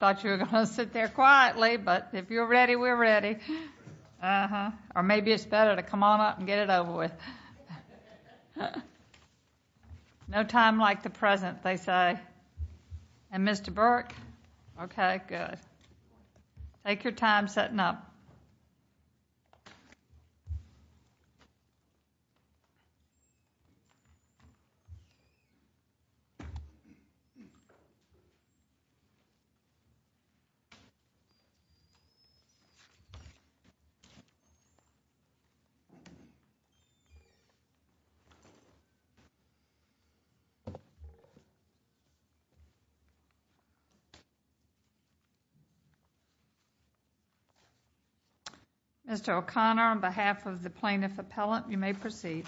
I thought you were going to sit there quietly, but if you're ready, we're ready. Or maybe it's better to come on up and get it over with. No time like the present, they say. And Mr. Burke? Okay, good. Take your time setting up. Mr. O'Connor, on behalf of the plaintiff appellant, you may proceed.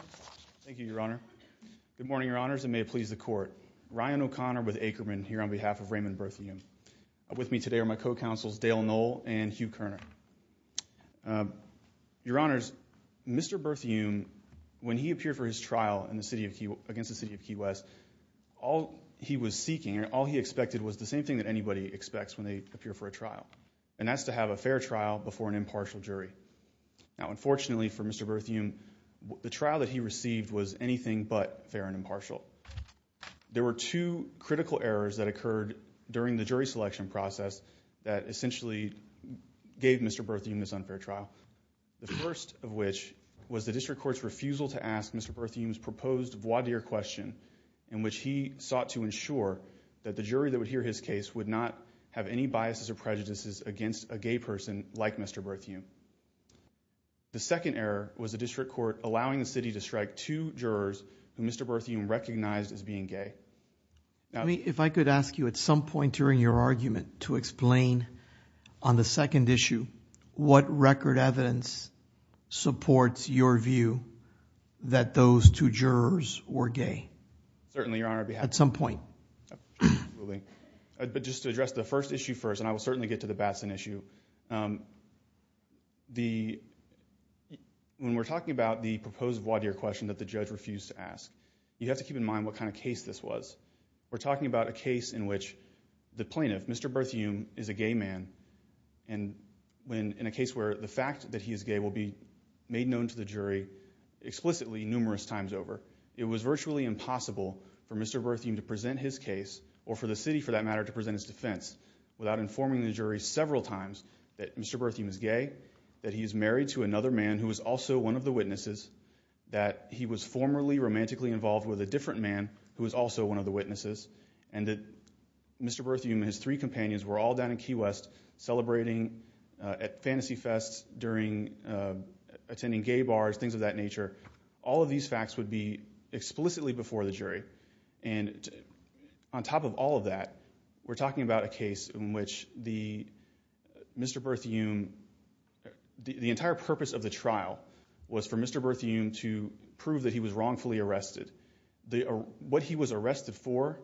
Thank you, Your Honor. Good morning, Your Honors, and may it please the Court. Ryan O'Connor with Akerman here on behalf of Raymond Berthiaume. With me today are my co-counsels Dale Knoll and Hugh Koerner. Your Honors, Mr. Berthiaume, when he appeared for his trial against the city of Key West, all he was seeking and all he expected was the same thing that anybody expects when they appear for a trial, and that's to have a fair trial before an impartial jury. Now, unfortunately for Mr. Berthiaume, the trial that he received was anything but fair and impartial. There were two critical errors that occurred during the jury selection process that essentially gave Mr. Berthiaume this unfair trial. The first of which was the district court's refusal to ask Mr. Berthiaume's proposed voir dire question in which he sought to ensure that the jury that would hear his case would not have any biases or prejudices against a gay person like Mr. Berthiaume. The second error was the district court allowing the city to strike two jurors who Mr. Berthiaume recognized as being gay. If I could ask you at some point during your argument to explain on the second issue what record evidence supports your view that those two jurors were gay. Certainly, Your Honor. At some point. But just to address the first issue first, and I will certainly get to the Batson issue, when we're talking about the proposed voir dire question that the judge refused to ask, you have to keep in mind what kind of case this was. We're talking about a case in which the plaintiff, Mr. Berthiaume, is a gay man, and in a case where the fact that he is gay will be made known to the jury explicitly numerous times over. It was virtually impossible for Mr. Berthiaume to present his case, or for the city for that matter, to present his defense without informing the jury several times that Mr. Berthiaume is gay, that he is married to another man who is also one of the witnesses, that he was formerly romantically involved with a different man who is also one of the witnesses, and that Mr. Berthiaume and his three companions were all down in Key West celebrating at fantasy fests, attending gay bars, things of that nature. All of these facts would be explicitly before the jury. And on top of all of that, we're talking about a case in which Mr. Berthiaume, the entire purpose of the trial was for Mr. Berthiaume to prove that he was wrongfully arrested. What he was arrested for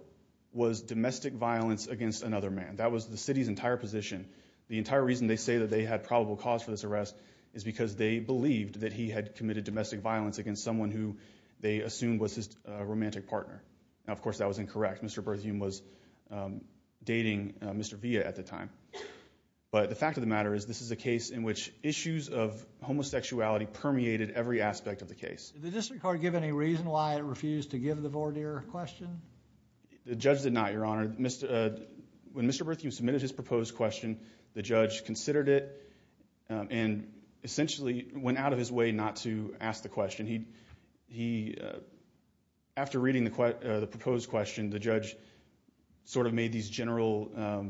was domestic violence against another man. That was the city's entire position. The entire reason they say that they had probable cause for this arrest is because they believed that he had committed domestic violence against someone who they assumed was his romantic partner. Now, of course, that was incorrect. Mr. Berthiaume was dating Mr. Villa at the time. But the fact of the matter is this is a case in which issues of homosexuality permeated every aspect of the case. Did the district court give any reason why it refused to give the voir dire question? The judge did not, Your Honor. When Mr. Berthiaume submitted his proposed question, the judge considered it and essentially went out of his way not to ask the question. After reading the proposed question, the judge sort of made these general...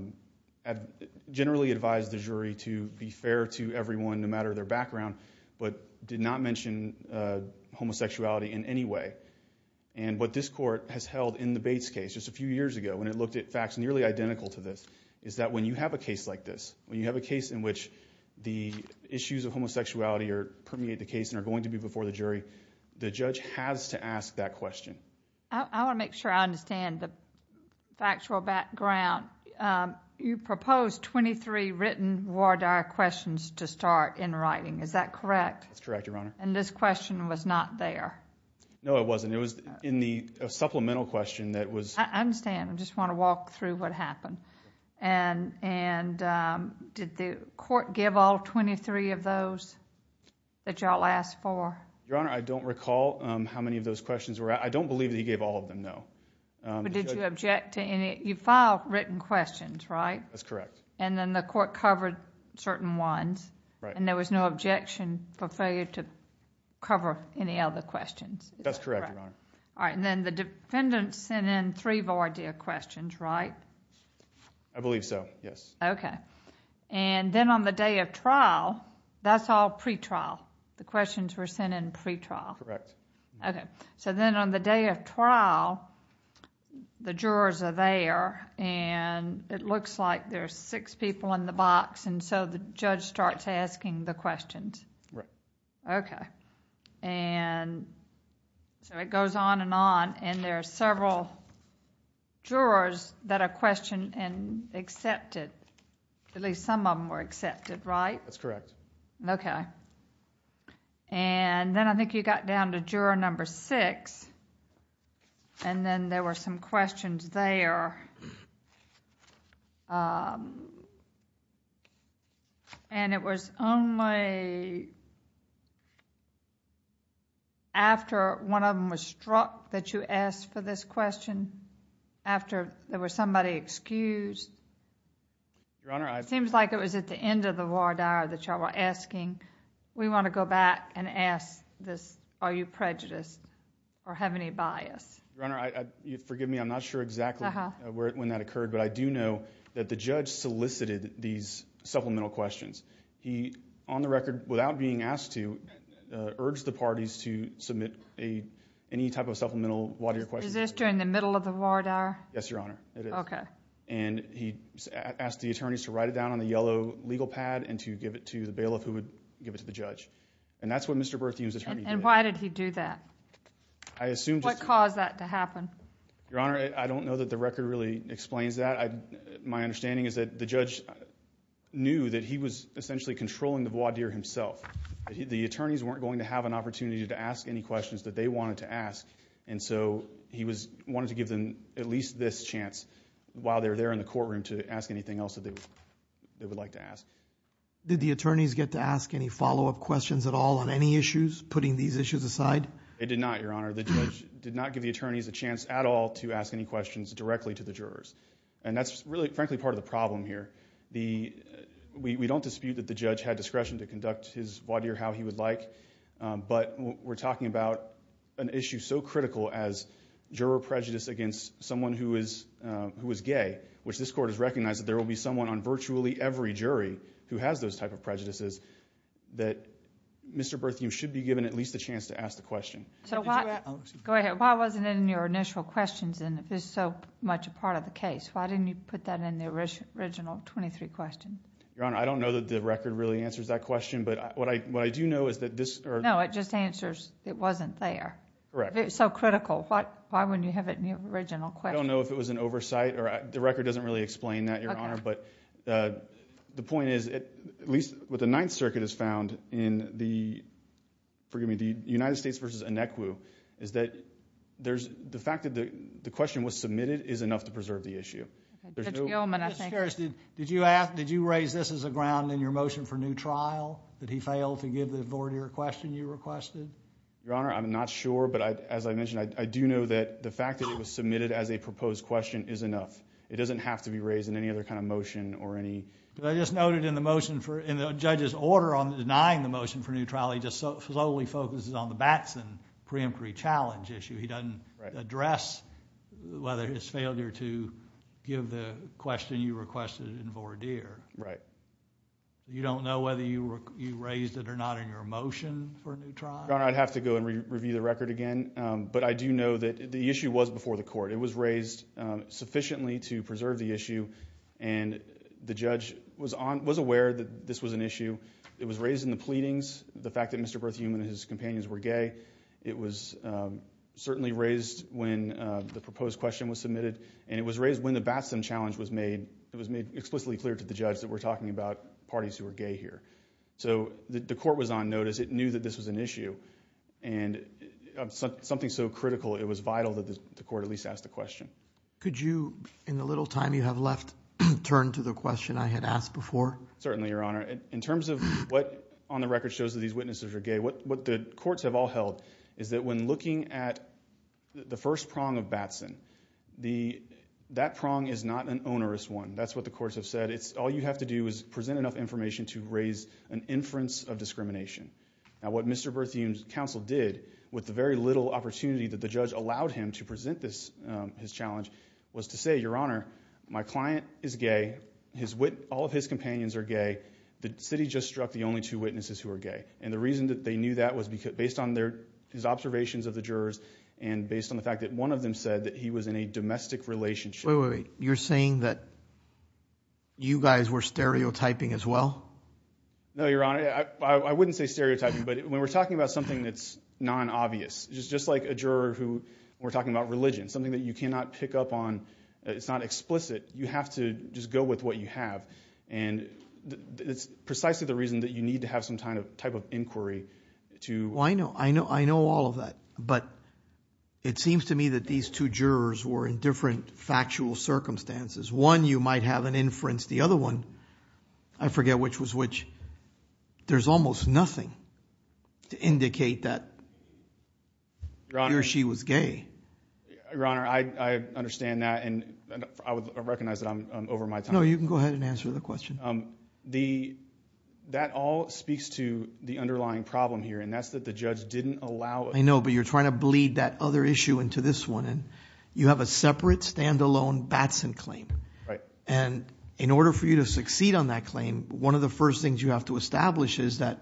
generally advised the jury to be fair to everyone, no matter their background, but did not mention homosexuality in any way. And what this court has held in the Bates case just a few years ago, when it looked at facts nearly identical to this, is that when you have a case like this, when you have a case in which the issues of homosexuality permeate the case and are going to be before the jury, the judge has to ask that question. I want to make sure I understand the factual background. You proposed 23 written voir dire questions to start in writing. Is that correct? That's correct, Your Honor. And this question was not there? No, it wasn't. It was in the supplemental question that was... I understand. I just want to walk through what happened. And did the court give all 23 of those that you all asked for? Your Honor, I don't recall how many of those questions were... I don't believe that he gave all of them, no. But did you object to any... you filed written questions, right? That's correct. And then the court covered certain ones? Right. And there was no objection for failure to cover any other questions? That's correct, Your Honor. All right. And then the defendant sent in three voir dire questions, right? I believe so, yes. Okay. And then on the day of trial, that's all pretrial? The questions were sent in pretrial? Correct. Okay. So then on the day of trial, the jurors are there, and it looks like there are six people in the box, and so the judge starts asking the questions? Right. Okay. And so it goes on and on, and there are several jurors that are questioned and accepted. At least some of them were accepted, right? That's correct. Okay. And then I think you got down to juror number six, and then there were some questions there. And it was only after one of them was struck that you asked for this question? After there was somebody excused? Your Honor, I've... It seems like it was at the end of the voir dire that y'all were asking. We want to go back and ask this. Are you prejudiced or have any bias? Your Honor, forgive me. I'm not sure exactly when that occurred, but I do know that the judge solicited these supplemental questions. He, on the record, without being asked to, urged the parties to submit any type of supplemental voir dire question. Is this during the middle of the voir dire? Yes, Your Honor. Okay. And he asked the attorneys to write it down on the yellow legal pad and to give it to the bailiff who would give it to the judge. And that's what Mr. Berthiaume's attorney did. And why did he do that? I assume just to... What caused that to happen? Your Honor, I don't know that the record really explains that. My understanding is that the judge knew that he was essentially controlling the voir dire himself. The attorneys weren't going to have an opportunity to ask any questions that they wanted to ask, and so he wanted to give them at least this chance while they were there in the courtroom to ask anything else that they would like to ask. Did the attorneys get to ask any follow-up questions at all on any issues, putting these issues aside? They did not, Your Honor. The judge did not give the attorneys a chance at all to ask any questions directly to the jurors. And that's really, frankly, part of the problem here. We don't dispute that the judge had discretion to conduct his voir dire how he would like, but we're talking about an issue so critical as juror prejudice against someone who is gay, which this court has recognized that there will be someone on virtually every jury who has those type of prejudices, that Mr. Berthiaume should be given at least a chance to ask the question. Go ahead. Why wasn't it in your initial questions, and it was so much a part of the case? Why didn't you put that in the original 23 questions? Your Honor, I don't know that the record really answers that question, but what I do know is that this... No, it just answers it wasn't there. Correct. It was so critical. Why wouldn't you have it in the original question? I don't know if it was an oversight, or the record doesn't really explain that, Your Honor, but the point is, at least what the Ninth Circuit has found in the United States v. Inequa, is that the fact that the question was submitted is enough to preserve the issue. Judge Gilman, I think... Did you raise this as a ground in your motion for new trial, that he failed to give the vorteer a question you requested? Your Honor, I'm not sure, but as I mentioned, I do know that the fact that it was submitted as a proposed question is enough. It doesn't have to be raised in any other kind of motion or any... But I just noted in the motion for... In denying the motion for new trial, he just slowly focuses on the Batson preemptory challenge issue. He doesn't address whether his failure to give the question you requested in vorteer. Right. You don't know whether you raised it or not in your motion for new trial? Your Honor, I'd have to go and review the record again, but I do know that the issue was before the court. It was raised sufficiently to preserve the issue, and the judge was aware that this was an issue. It was raised in the pleadings, the fact that Mr. Berthiaume and his companions were gay. It was certainly raised when the proposed question was submitted, and it was raised when the Batson challenge was made. It was made explicitly clear to the judge that we're talking about parties who are gay here. So the court was on notice. It knew that this was an issue. And something so critical, it was vital that the court at least ask the question. Could you, in the little time you have left, turn to the question I had asked before? Certainly, Your Honor. In terms of what on the record shows that these witnesses are gay, what the courts have all held is that when looking at the first prong of Batson, that prong is not an onerous one. That's what the courts have said. All you have to do is present enough information to raise an inference of discrimination. Now, what Mr. Berthiaume's counsel did, with the very little opportunity that the judge allowed him to present his challenge, was to say, Your Honor, my client is gay, all of his companions are gay, the city just struck the only two witnesses who are gay. And the reason that they knew that was based on his observations of the jurors and based on the fact that one of them said that he was in a domestic relationship. Wait, wait, wait. You're saying that you guys were stereotyping as well? No, Your Honor. I wouldn't say stereotyping, but when we're talking about something that's non-obvious, just like a juror who, when we're talking about religion, something that you cannot pick up on, it's not explicit, you have to just go with what you have. And that's precisely the reason that you need to have some type of inquiry to... Well, I know. I know all of that. But it seems to me that these two jurors were in different factual circumstances. One, you might have an inference. The other one, I forget which was which. There's almost nothing to indicate that he or she was gay. Your Honor, I understand that. And I recognize that I'm over my time. No, you can go ahead and answer the question. That all speaks to the underlying problem here, and that's that the judge didn't allow... I know, but you're trying to bleed that other issue into this one. You have a separate, stand-alone Batson claim. Right. And in order for you to succeed on that claim, one of the first things you have to establish is that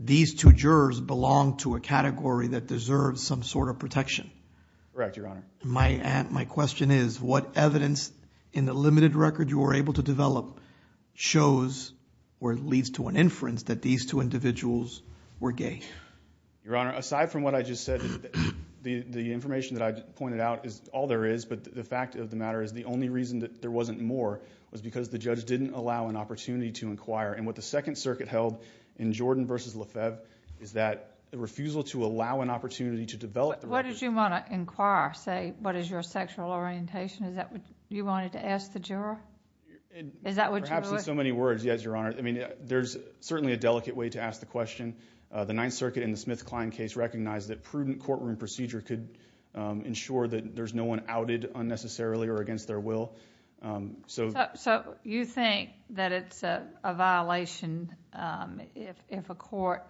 these two jurors belong to a category that deserves some sort of protection. Correct, Your Honor. My question is, what evidence in the limited record you were able to develop shows, or leads to an inference, that these two individuals were gay? Your Honor, aside from what I just said, the information that I pointed out is all there is. But the fact of the matter is, the only reason that there wasn't more was because the judge didn't allow an opportunity to inquire. And what the Second Circuit held in Jordan v. Lefebvre is that the refusal to allow an opportunity to develop... What did you want to inquire? Say, what is your sexual orientation? Is that what you wanted to ask the juror? Is that what you... Perhaps in so many words, yes, Your Honor. I mean, there's certainly a delicate way to ask the question. The Ninth Circuit in the Smith-Kline case recognized that prudent courtroom procedure could ensure that there's no one outed unnecessarily or against their will. So... So you think that it's a violation if a court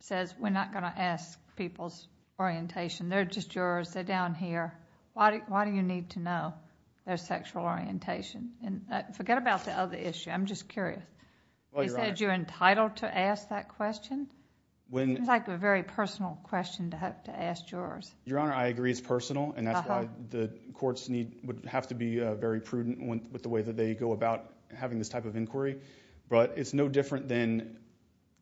says, we're not going to ask people's orientation, they're just jurors, they're down here. Why do you need to know their sexual orientation? Forget about the other issue. I'm just curious. Is that you're entitled to ask that question? It seems like a very personal question to have to ask jurors. Your Honor, I agree it's personal, and that's why the courts would have to be very prudent with the way that they go about having this type of inquiry. But it's no different than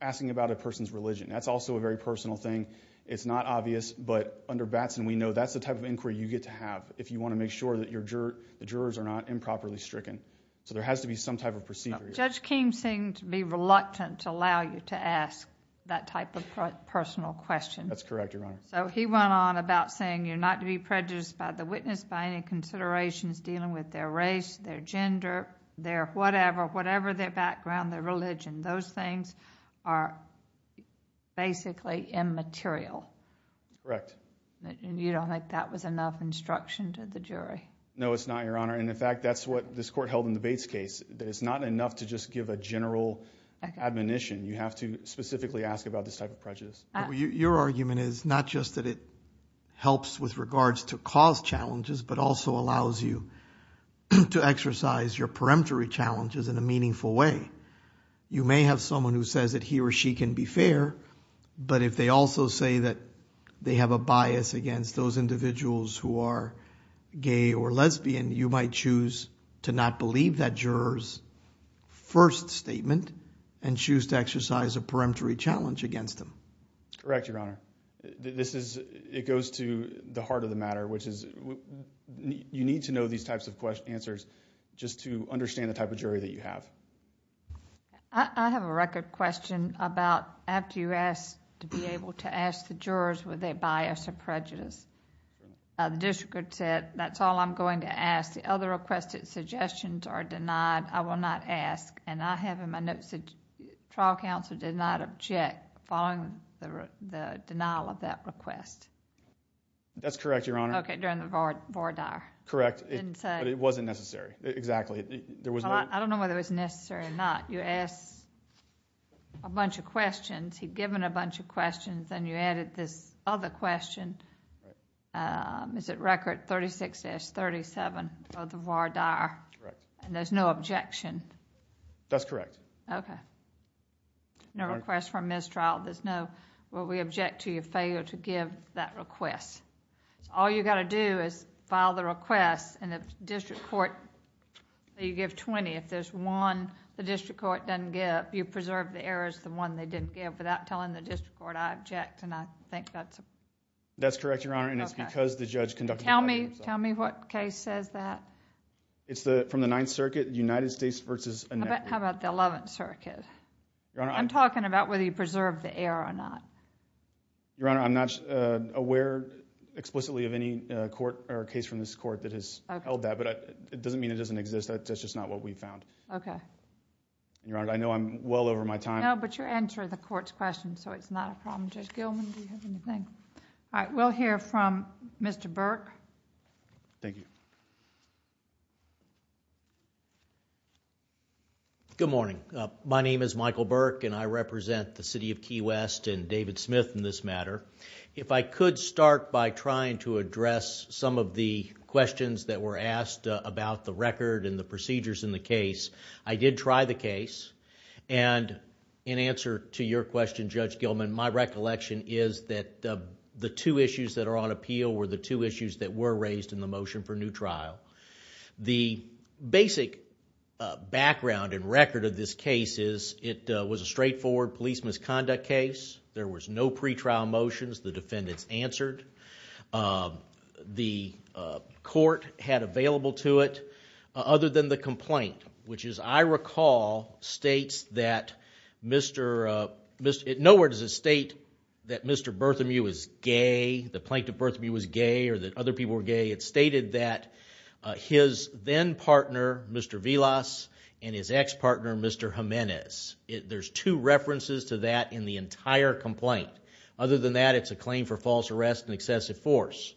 asking about a person's religion. That's also a very personal thing. It's not obvious, but under Batson we know that's the type of inquiry you get to have if you want to make sure that the jurors are not improperly stricken. So there has to be some type of procedure. Judge Keem seemed to be reluctant to allow you to ask that type of personal question. That's correct, Your Honor. So he went on about saying you're not to be prejudiced by the witness, by any considerations dealing with their race, their gender, their whatever, whatever their background, their religion. Those things are basically immaterial. Correct. You don't think that was enough instruction to the jury? No, it's not, Your Honor. In fact, that's what this court held in the Bates case, that it's not enough to just give a general admonition. You have to specifically ask about this type of prejudice. Your argument is not just that it helps with regards to cause challenges but also allows you to exercise your peremptory challenges in a meaningful way. You may have someone who says that he or she can be fair, but if they also say that they have a bias against those individuals who are gay or lesbian, you might choose to not believe that juror's first statement and choose to exercise a peremptory challenge against them. Correct, Your Honor. It goes to the heart of the matter, which is you need to know these types of answers just to understand the type of jury that you have. I have a record question about after you asked to be able to ask the jurors were they bias or prejudice. The district court said, that's all I'm going to ask. The other requested suggestions are denied. I will not ask. I have in my notes that trial counsel did not object following the denial of that request. That's correct, Your Honor. Okay, during the voir dire. Correct. But it wasn't necessary. Exactly. I don't know whether it was necessary or not. You asked a bunch of questions. He'd given a bunch of questions, and you added this other question. Is it record 36-37 of the voir dire? Correct. And there's no objection? That's correct. Okay. No request for mistrial. There's no, well, we object to your failure to give that request. All you've got to do is file the request, and the district court, you give 20. If there's one the district court doesn't give, you preserve the errors, the one they didn't give, without telling the district court I object, and I think that's... That's correct, Your Honor, and it's because the judge conducted... Tell me what case says that. It's from the Ninth Circuit, United States versus... How about the Eleventh Circuit? Your Honor, I... I'm talking about whether you preserve the error or not. Your Honor, I'm not aware explicitly of any court or case from this court that has held that, but it doesn't mean it doesn't exist. That's just not what we found. Okay. Your Honor, I know I'm well over my time. No, but you're answering the court's question, so it's not a problem. Judge Gilman, do you have anything? All right, we'll hear from Mr. Burke. Thank you. Good morning. My name is Michael Burke, and I represent the City of Key West and David Smith in this matter. If I could start by trying to address some of the questions that were asked about the record and the procedures in the case. I did try the case, and in answer to your question, Judge Gilman, my recollection is that the two issues that are on appeal were the two issues that were raised in the motion for new trial. The basic background and record of this case is it was a straightforward police misconduct case. There was no pretrial motions. The defendants answered. The court had available to it, other than the complaint, which, as I recall, states that Mr.... Nowhere does it state that Mr. Berthamew was gay, the plaintiff Berthamew was gay, or that other people were gay. It stated that his then-partner, Mr. Villas, and his ex-partner, Mr. Jimenez. There's two references to that in the entire complaint. Other than that, it's a claim for false arrest and excessive force.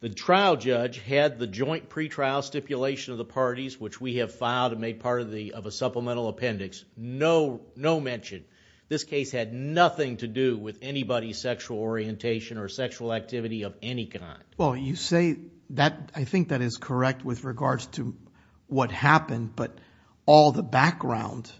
The trial judge had the joint pretrial stipulation of the parties, which we have filed and made part of a supplemental appendix, no mention. This case had nothing to do with anybody's sexual orientation or sexual activity of any kind. Well, you say that... I think that is correct with regards to what happened, but all the background...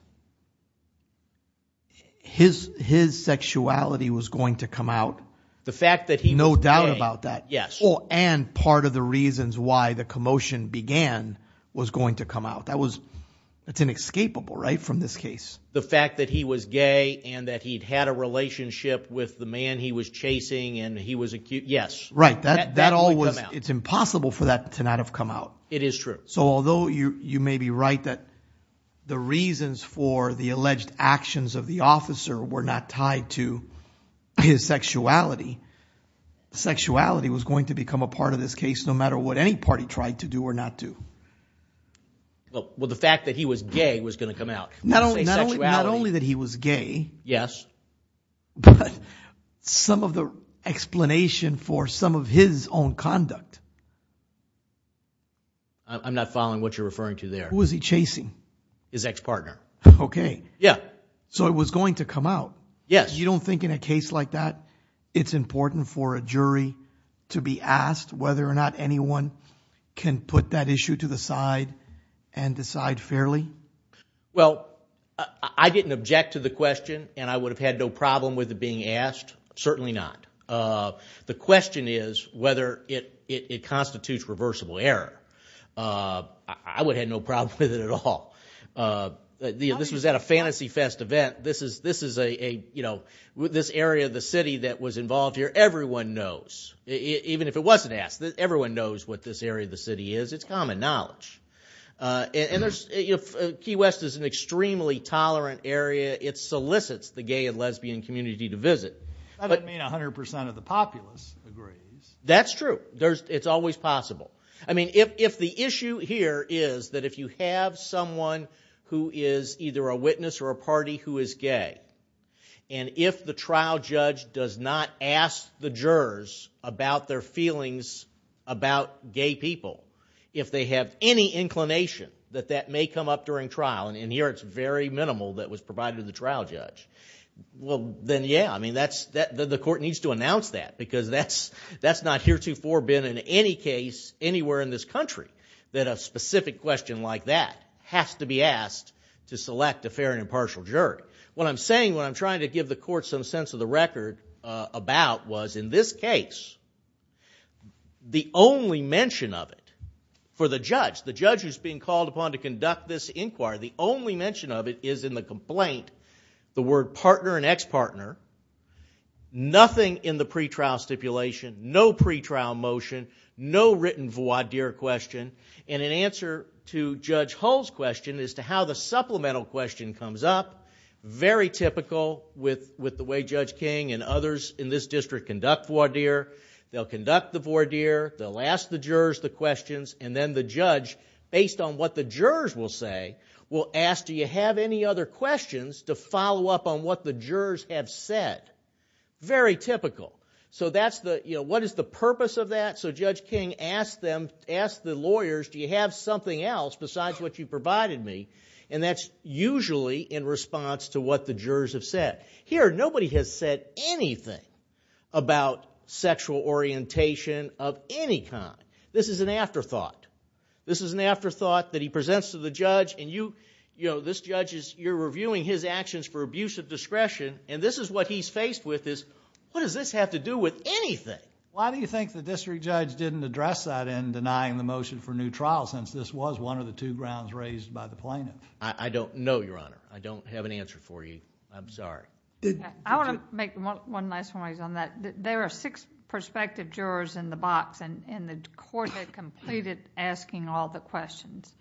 His sexuality was going to come out. The fact that he was gay... No doubt about that. Yes. And part of the reasons why the commotion began was going to come out. That's inescapable, right, from this case? The fact that he was gay and that he'd had a relationship with the man he was chasing and he was... Yes. Right, that all was... That would come out. It's impossible for that to not have come out. It is true. So although you may be right that the reasons for the alleged actions of the officer were not tied to his sexuality, sexuality was going to become a part of this case no matter what any party tried to do or not do. Well, the fact that he was gay was going to come out. Not only that he was gay... Yes. But some of the explanation for some of his own conduct... I'm not following what you're referring to there. Who was he chasing? His ex-partner. Okay. Yeah. So it was going to come out. Yes. You don't think in a case like that it's important for a jury to be asked whether or not anyone can put that issue to the side and decide fairly? Well, I didn't object to the question, and I would have had no problem with it being asked. Certainly not. The question is whether it constitutes reversible error. I would have had no problem with it at all. This was at a Fantasy Fest event. This area of the city that was involved here, everyone knows, even if it wasn't asked. Everyone knows what this area of the city is. It's common knowledge. And Key West is an extremely tolerant area. It solicits the gay and lesbian community to visit. That doesn't mean 100% of the populace agrees. That's true. It's always possible. I mean, if the issue here is that if you have someone who is either a witness or a party who is gay, and if the trial judge does not ask the jurors about their feelings about gay people, if they have any inclination that that may come up during trial, and here it's very minimal that was provided to the trial judge, well, then, yeah, I mean, the court needs to announce that, because that's not heretofore been in any case anywhere in this country, that a specific question like that has to be asked to select a fair and impartial jury. What I'm saying, what I'm trying to give the court some sense of the record about was, in this case, the only mention of it for the judge, the judge who's being called upon to conduct this inquiry, the only mention of it is in the complaint, the word partner and ex-partner, nothing in the pretrial stipulation, no pretrial motion, no written voir dire question, and in answer to Judge Hull's question as to how the supplemental question comes up, very typical with the way Judge King and others in this district conduct voir dire, they'll conduct the voir dire, they'll ask the jurors the questions, and then the judge, based on what the jurors will say, will ask, do you have any other questions to follow up on what the jurors have said? Very typical. So that's the, you know, what is the purpose of that? So Judge King asked them, asked the lawyers, do you have something else besides what you provided me? And that's usually in response to what the jurors have said. Here, nobody has said anything about sexual orientation of any kind. This is an afterthought. This is an afterthought that he presents to the judge, and you, you know, this judge is, you're reviewing his actions for abusive discretion, and this is what he's faced with is, what does this have to do with anything? Why do you think the district judge didn't address that in denying the motion for new trial, since this was one of the two grounds raised by the plaintiff? I don't know, Your Honor. I don't have an answer for you. I'm sorry. I want to make one last point on that. There are six prospective jurors in the box, and the court had completed asking all the questions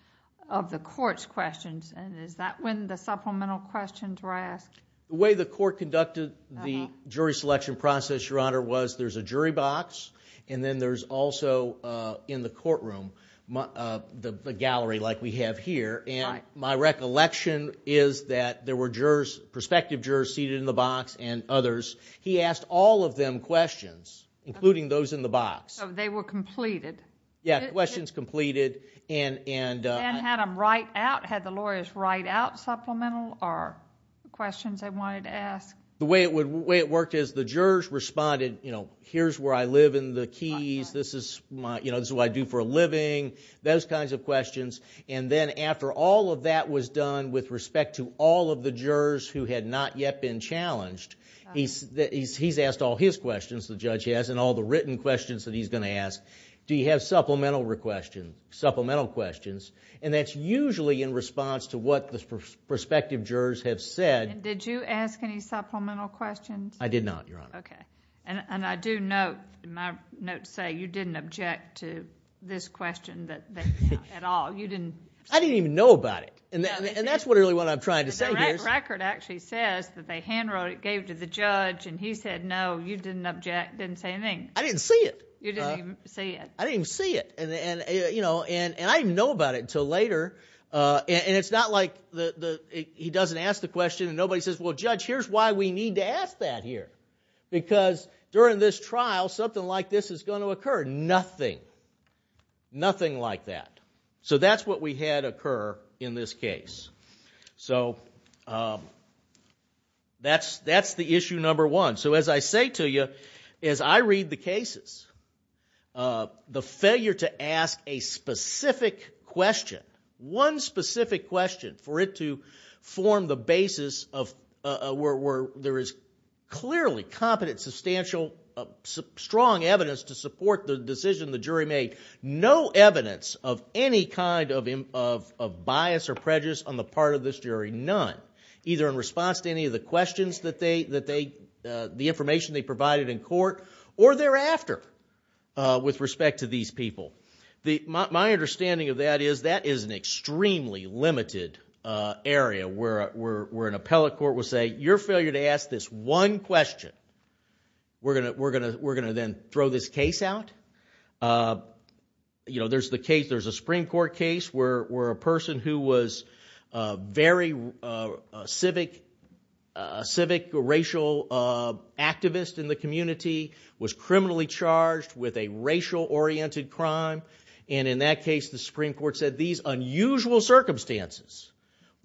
of the court's questions, and is that when the supplemental questions were asked? The way the court conducted the jury selection process, Your Honor, was there's a jury box, and then there's also, in the courtroom, the gallery like we have here, and my recollection is that there were jurors, prospective jurors seated in the box and others. He asked all of them questions, including those in the box. So they were completed? Yeah, questions completed, and... And had them write out, had the lawyers write out supplemental questions they wanted to ask? The way it worked is the jurors responded, you know, here's where I live in the Keys, this is what I do for a living, those kinds of questions, and then after all of that was done with respect to all of the jurors who had not yet been challenged, he's asked all his questions, the judge has, and all the written questions that he's going to ask, do you have supplemental questions? And that's usually in response to what the prospective jurors have said. Did you ask any supplemental questions? I did not, Your Honor. Okay, and I do note, my notes say, you didn't object to this question at all. I didn't even know about it. And that's really what I'm trying to say here. The record actually says that they hand wrote it, gave it to the judge, and he said, no, you didn't object, didn't say anything. I didn't see it. You didn't even see it. I didn't even see it. And I didn't even know about it until later, and it's not like he doesn't ask the question, and nobody says, well, Judge, here's why we need to ask that here. Because during this trial, something like this is going to occur. Nothing, nothing like that. So that's what we had occur in this case. So that's the issue number one. So as I say to you, as I read the cases, the failure to ask a specific question, one specific question, for it to form the basis of where there is clearly competent, substantial, strong evidence to support the decision the jury made, no evidence of any kind of bias or prejudice on the part of this jury, none, either in response to any of the questions that they, the information they provided in court, or thereafter with respect to these people. My understanding of that is that is an extremely limited area where an appellate court will say, your failure to ask this one question, we're going to then throw this case out. You know, there's the case, there's a Supreme Court case where a person who was a very civic, civic racial activist in the community was criminally charged with a racial-oriented crime, and in that case the Supreme Court said these unusual circumstances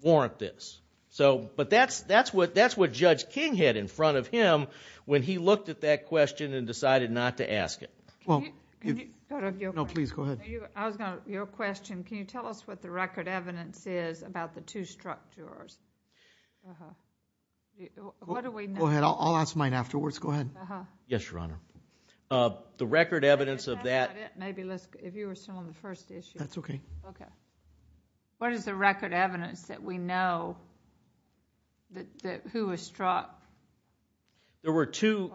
warrant this. But that's what Judge King had in front of him when he looked at that question and decided not to ask it. No, please, go ahead. I was going to, your question, can you tell us what the record evidence is about the two structures? What do we know? Go ahead, I'll ask mine afterwards, go ahead. Yes, Your Honor. The record evidence of that... Maybe if you were still on the first issue. That's okay. Okay. What is the record evidence that we know that who was struck? There were two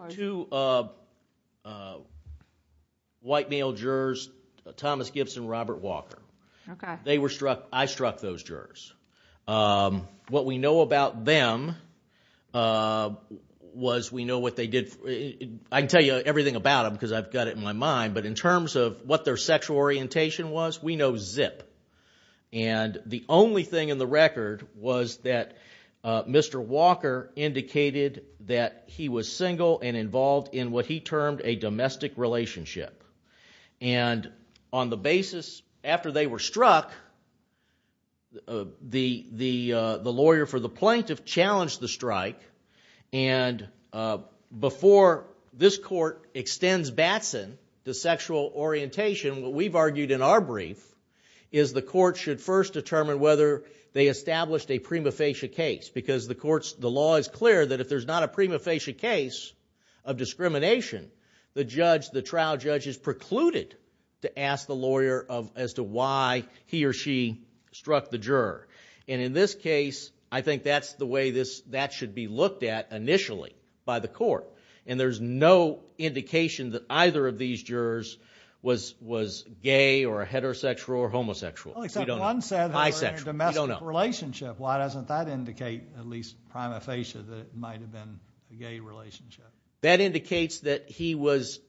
white male jurors, Thomas Gibson and Robert Walker. Okay. They were struck, I struck those jurors. What we know about them was we know what they did... I can tell you everything about them because I've got it in my mind, but in terms of what their sexual orientation was, we know zip. And the only thing in the record was that Mr. Walker indicated that he was single and involved in what he termed a domestic relationship. And on the basis, after they were struck, the lawyer for the plaintiff challenged the strike, and before this court extends Batson to sexual orientation, what we've argued in our brief is the court should first determine whether they established a prima facie case because the law is clear that if there's not a prima facie case of discrimination, the trial judge is precluded to ask the lawyer as to why he or she struck the juror. And in this case, I think that's the way that should be looked at initially by the court. And there's no indication that either of these jurors was gay or heterosexual or homosexual. Except one said they were in a domestic relationship. We don't know. Why doesn't that indicate, at least prima facie, that it might have been a gay relationship? That indicates that he was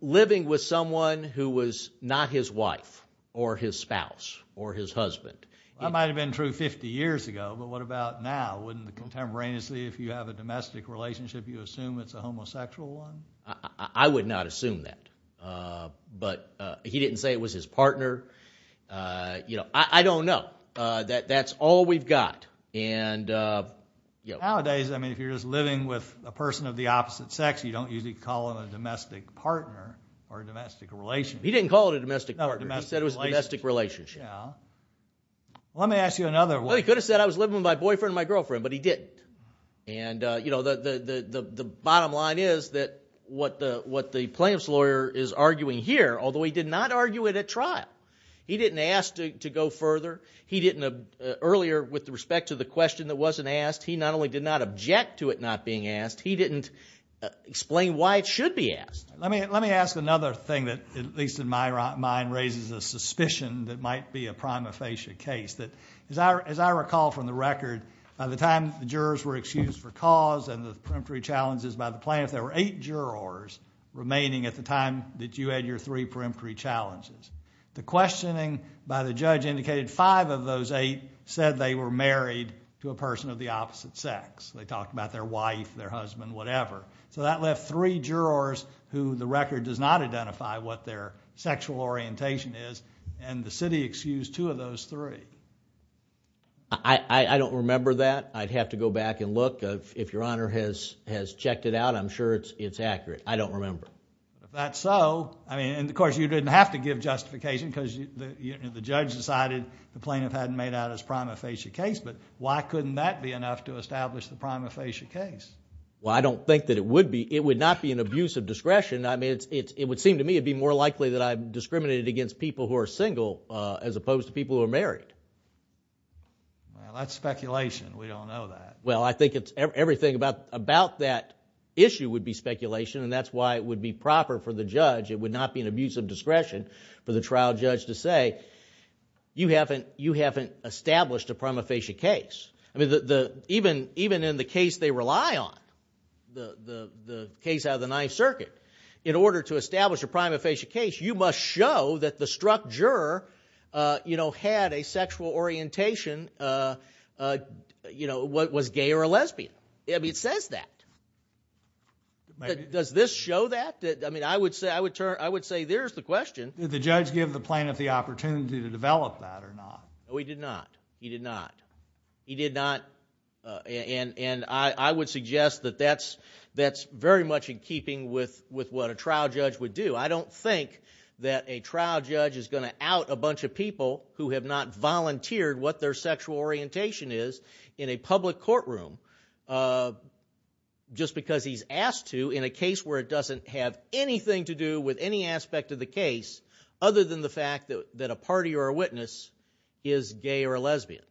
living with someone who was not his wife or his spouse or his husband. That might have been true 50 years ago, but what about now? Wouldn't contemporaneously, if you have a domestic relationship, you assume it's a homosexual one? I would not assume that. But he didn't say it was his partner. I don't know. That's all we've got. Nowadays, if you're just living with a person of the opposite sex, you don't usually call them a domestic partner or a domestic relationship. He didn't call it a domestic partner. He said it was a domestic relationship. Let me ask you another one. Well, he could have said I was living with my boyfriend and my girlfriend, but he didn't. The bottom line is that what the plaintiff's lawyer is arguing here, although he did not argue it at trial, he didn't ask to go further. Earlier, with respect to the question that wasn't asked, he not only did not object to it not being asked, he didn't explain why it should be asked. Let me ask another thing that, at least in my mind, raises a suspicion that might be a prima facie case. As I recall from the record, by the time the jurors were excused for cause and the peremptory challenges by the plaintiff, there were eight jurors remaining at the time that you had your three peremptory challenges. The questioning by the judge indicated five of those eight said they were married to a person of the opposite sex. They talked about their wife, their husband, whatever. That left three jurors who the record does not identify what their sexual orientation is, and the city excused two of those three. I don't remember that. I'd have to go back and look. If Your Honor has checked it out, I'm sure it's accurate. I don't remember. If that's so, and of course, you didn't have to give justification because the judge decided the plaintiff hadn't made out his prima facie case, but why couldn't that be enough to establish the prima facie case? Well, I don't think that it would be. It would not be an abuse of discretion. It would seem to me it would be more likely that I'm discriminated against people who are single as opposed to people who are married. Well, that's speculation. We don't know that. Well, I think everything about that issue would be speculation, and that's why it would be proper for the judge. It would not be an abuse of discretion for the trial judge to say, you haven't established a prima facie case. I mean, even in the case they rely on, the case out of the Ninth Circuit, in order to establish a prima facie case, you must show that the struck juror had a sexual orientation, was gay or a lesbian. I mean, it says that. Does this show that? I mean, I would say there's the question. Did the judge give the plaintiff the opportunity to develop that or not? No, he did not. He did not. He did not, and I would suggest that that's very much in keeping with what a trial judge would do. I don't think that a trial judge is going to out a bunch of people who have not volunteered what their sexual orientation is in a public courtroom just because he's asked to in a case where it doesn't have anything to do with any aspect of the case other than the fact that a party or a witness is gay or a lesbian.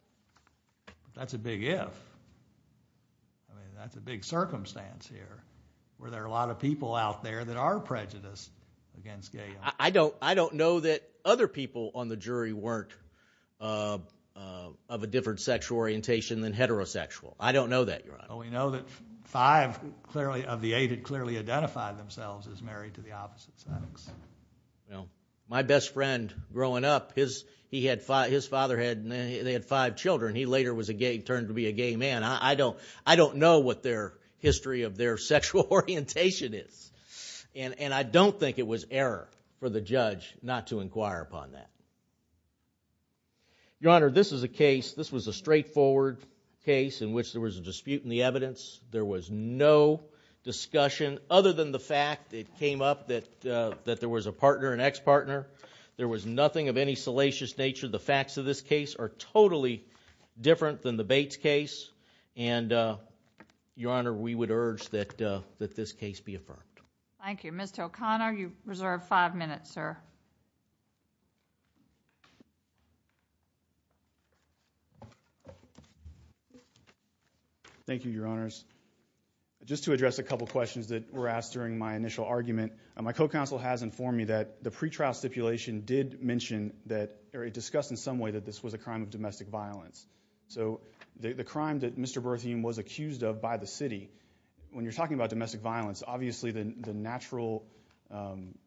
That's a big if. I mean, that's a big circumstance here where there are a lot of people out there that are prejudiced against gay men. I don't know that other people on the jury weren't of a different sexual orientation than heterosexual. I don't know that, Your Honor. Well, we know that five of the eight had clearly identified themselves as married to the opposite sex. My best friend growing up, his father had five children. He later turned to be a gay man. I don't know what their history of their sexual orientation is. And I don't think it was error for the judge not to inquire upon that. Your Honor, this is a case, this was a straightforward case in which there was a dispute in the evidence. There was no discussion other than the fact it came up that there was a partner, an ex-partner. There was nothing of any salacious nature. The facts of this case are totally different than the Bates case. And, Your Honor, we would urge that this case be affirmed. Thank you. Mr. O'Connor, you reserve five minutes, sir. Thank you, Your Honors. Just to address a couple questions that were asked during my initial argument, my co-counsel has informed me that the pretrial stipulation did mention that, or it discussed in some way that this was a crime of domestic violence. So the crime that Mr. Bertheum was accused of by the city, when you're talking about domestic violence, obviously the natural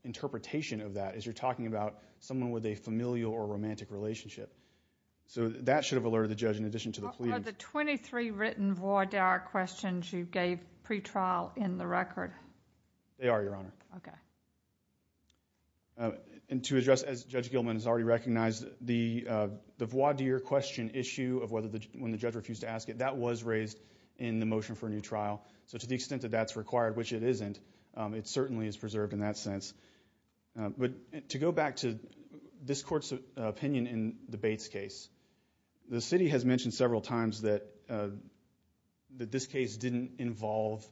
interpretation of that is you're talking about someone with a familial or romantic relationship. So that should have alerted the judge in addition to the plea. Are the 23 written voir dire questions you gave pretrial in the record? They are, Your Honor. Okay. And to address, as Judge Gilman has already recognized, the voir dire question issue of when the judge refused to ask it, that was raised in the motion for a new trial. So to the extent that that's required, which it isn't, it certainly is preserved in that sense. But to go back to this court's opinion in the Bates case, the city has mentioned several times that this case didn't involve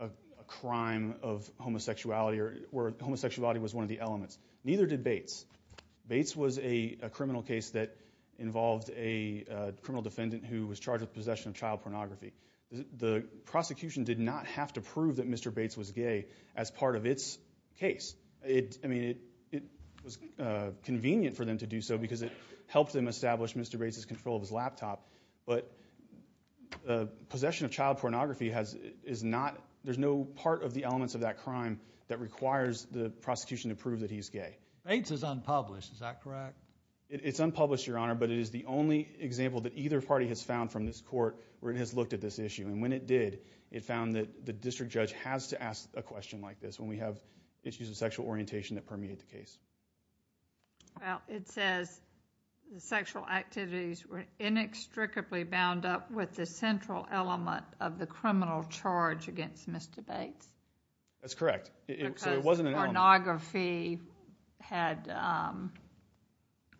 a crime of homosexuality or homosexuality was one of the elements. Neither did Bates. Bates was a criminal case that involved a criminal defendant who was charged with possession of child pornography. The prosecution did not have to prove that Mr. Bates was gay as part of its case. I mean, it was convenient for them to do so because it helped them establish Mr. Bates' control of his laptop. But possession of child pornography is not, there's no part of the elements of that crime that requires the prosecution to prove that he's gay. Bates is unpublished. Is that correct? It's unpublished, Your Honor, but it is the only example that either party has found from this court where it has looked at this issue. And when it did, it found that the district judge has to ask a question like this when we have issues of sexual orientation that permeate the case. Well, it says the sexual activities were inextricably bound up with the central element of the criminal charge against Mr. Bates. That's correct. So it wasn't an element. Because pornography had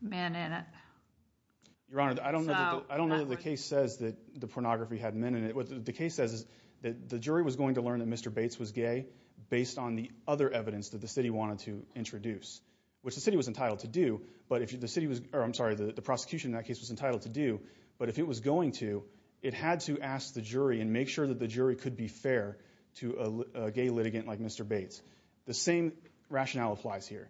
men in it. Your Honor, I don't know that the case says that the pornography had men in it. The case says that the jury was going to learn that Mr. Bates was gay based on the other evidence that the city wanted to introduce, which the city was entitled to do. I'm sorry, the prosecution in that case was entitled to do. But if it was going to, it had to ask the jury and make sure that the jury could be fair to a gay litigant like Mr. Bates. The same rationale applies here.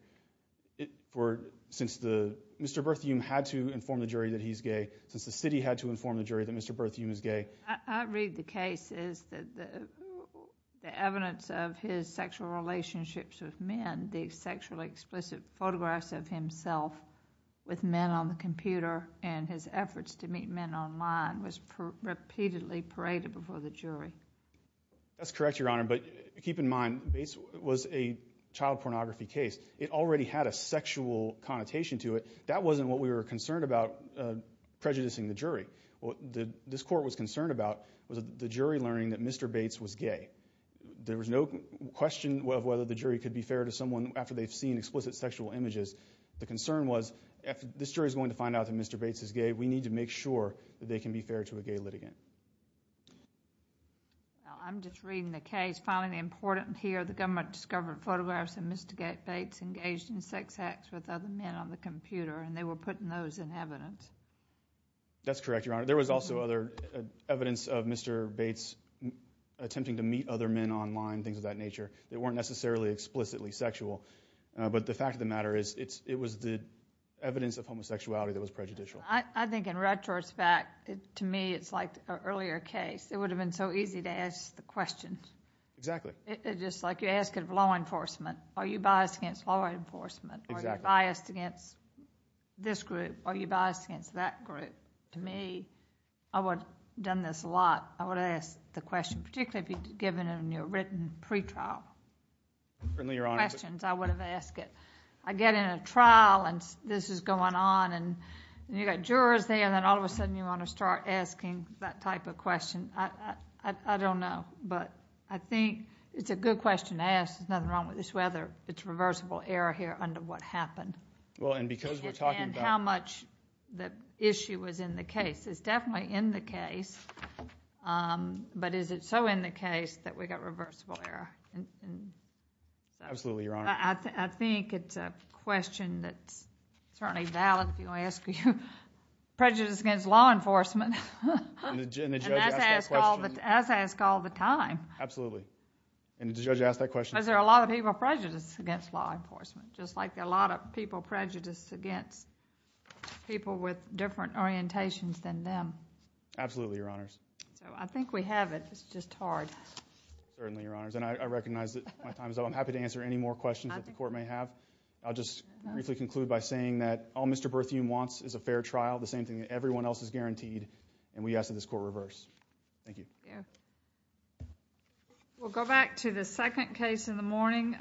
Since Mr. Berthiaume had to inform the jury that he's gay, since the city had to inform the jury that Mr. Berthiaume is gay. I read the cases that the evidence of his sexual relationships with men, the sexually explicit photographs of himself with men on the computer and his efforts to meet men online was repeatedly paraded before the jury. That's correct, Your Honor. But keep in mind, Bates was a child pornography case. It already had a sexual connotation to it. That wasn't what we were concerned about prejudicing the jury. What this court was concerned about was the jury learning that Mr. Bates was gay. There was no question of whether the jury could be fair to someone after they've seen explicit sexual images. The concern was, if this jury is going to find out that Mr. Bates is gay, we need to make sure that they can be fair to a gay litigant. I'm just reading the case. Finally, important here, the government discovered photographs of Mr. Bates engaged in sex acts with other men on the computer, and they were putting those in evidence. That's correct, Your Honor. There was also other evidence of Mr. Bates attempting to meet other men online, things of that nature, that weren't necessarily explicitly sexual. But the fact of the matter is it was the evidence of homosexuality that was prejudicial. I think in retrospect, to me, it's like an earlier case. It would have been so easy to ask the questions. Exactly. It's just like you're asking for law enforcement. Are you biased against law enforcement? Exactly. Are you biased against this group? Are you biased against that group? To me, I would have done this a lot. I would have asked the question, particularly if you'd given them your written pretrial questions, I would have asked it. I get in a trial, and this is going on, and you've got jurors there, and then all of a sudden you want to start asking that type of question. I don't know. I think it's a good question to ask. There's nothing wrong with this weather. It's reversible error here under what happened. Because we're talking about... And how much the issue was in the case. It's definitely in the case, but is it so in the case that we've got reversible error? Absolutely, Your Honor. I think it's a question that's certainly valid if you're going to ask prejudice against law enforcement. And the judge asked that question. As I ask all the time. Absolutely. And the judge asked that question. Because there are a lot of people prejudiced against law enforcement, just like there are a lot of people prejudiced against people with different orientations than them. Absolutely, Your Honors. I think we have it. It's just hard. Certainly, Your Honors. And I recognize that my time is up. I'm happy to answer any more questions that the court may have. I'll just briefly conclude by saying that all Mr. Berthiaume wants is a fair trial, the same thing that everyone else is guaranteed, and we ask that this court reverse. Thank you. Thank you. We'll go back to the second case in the morning.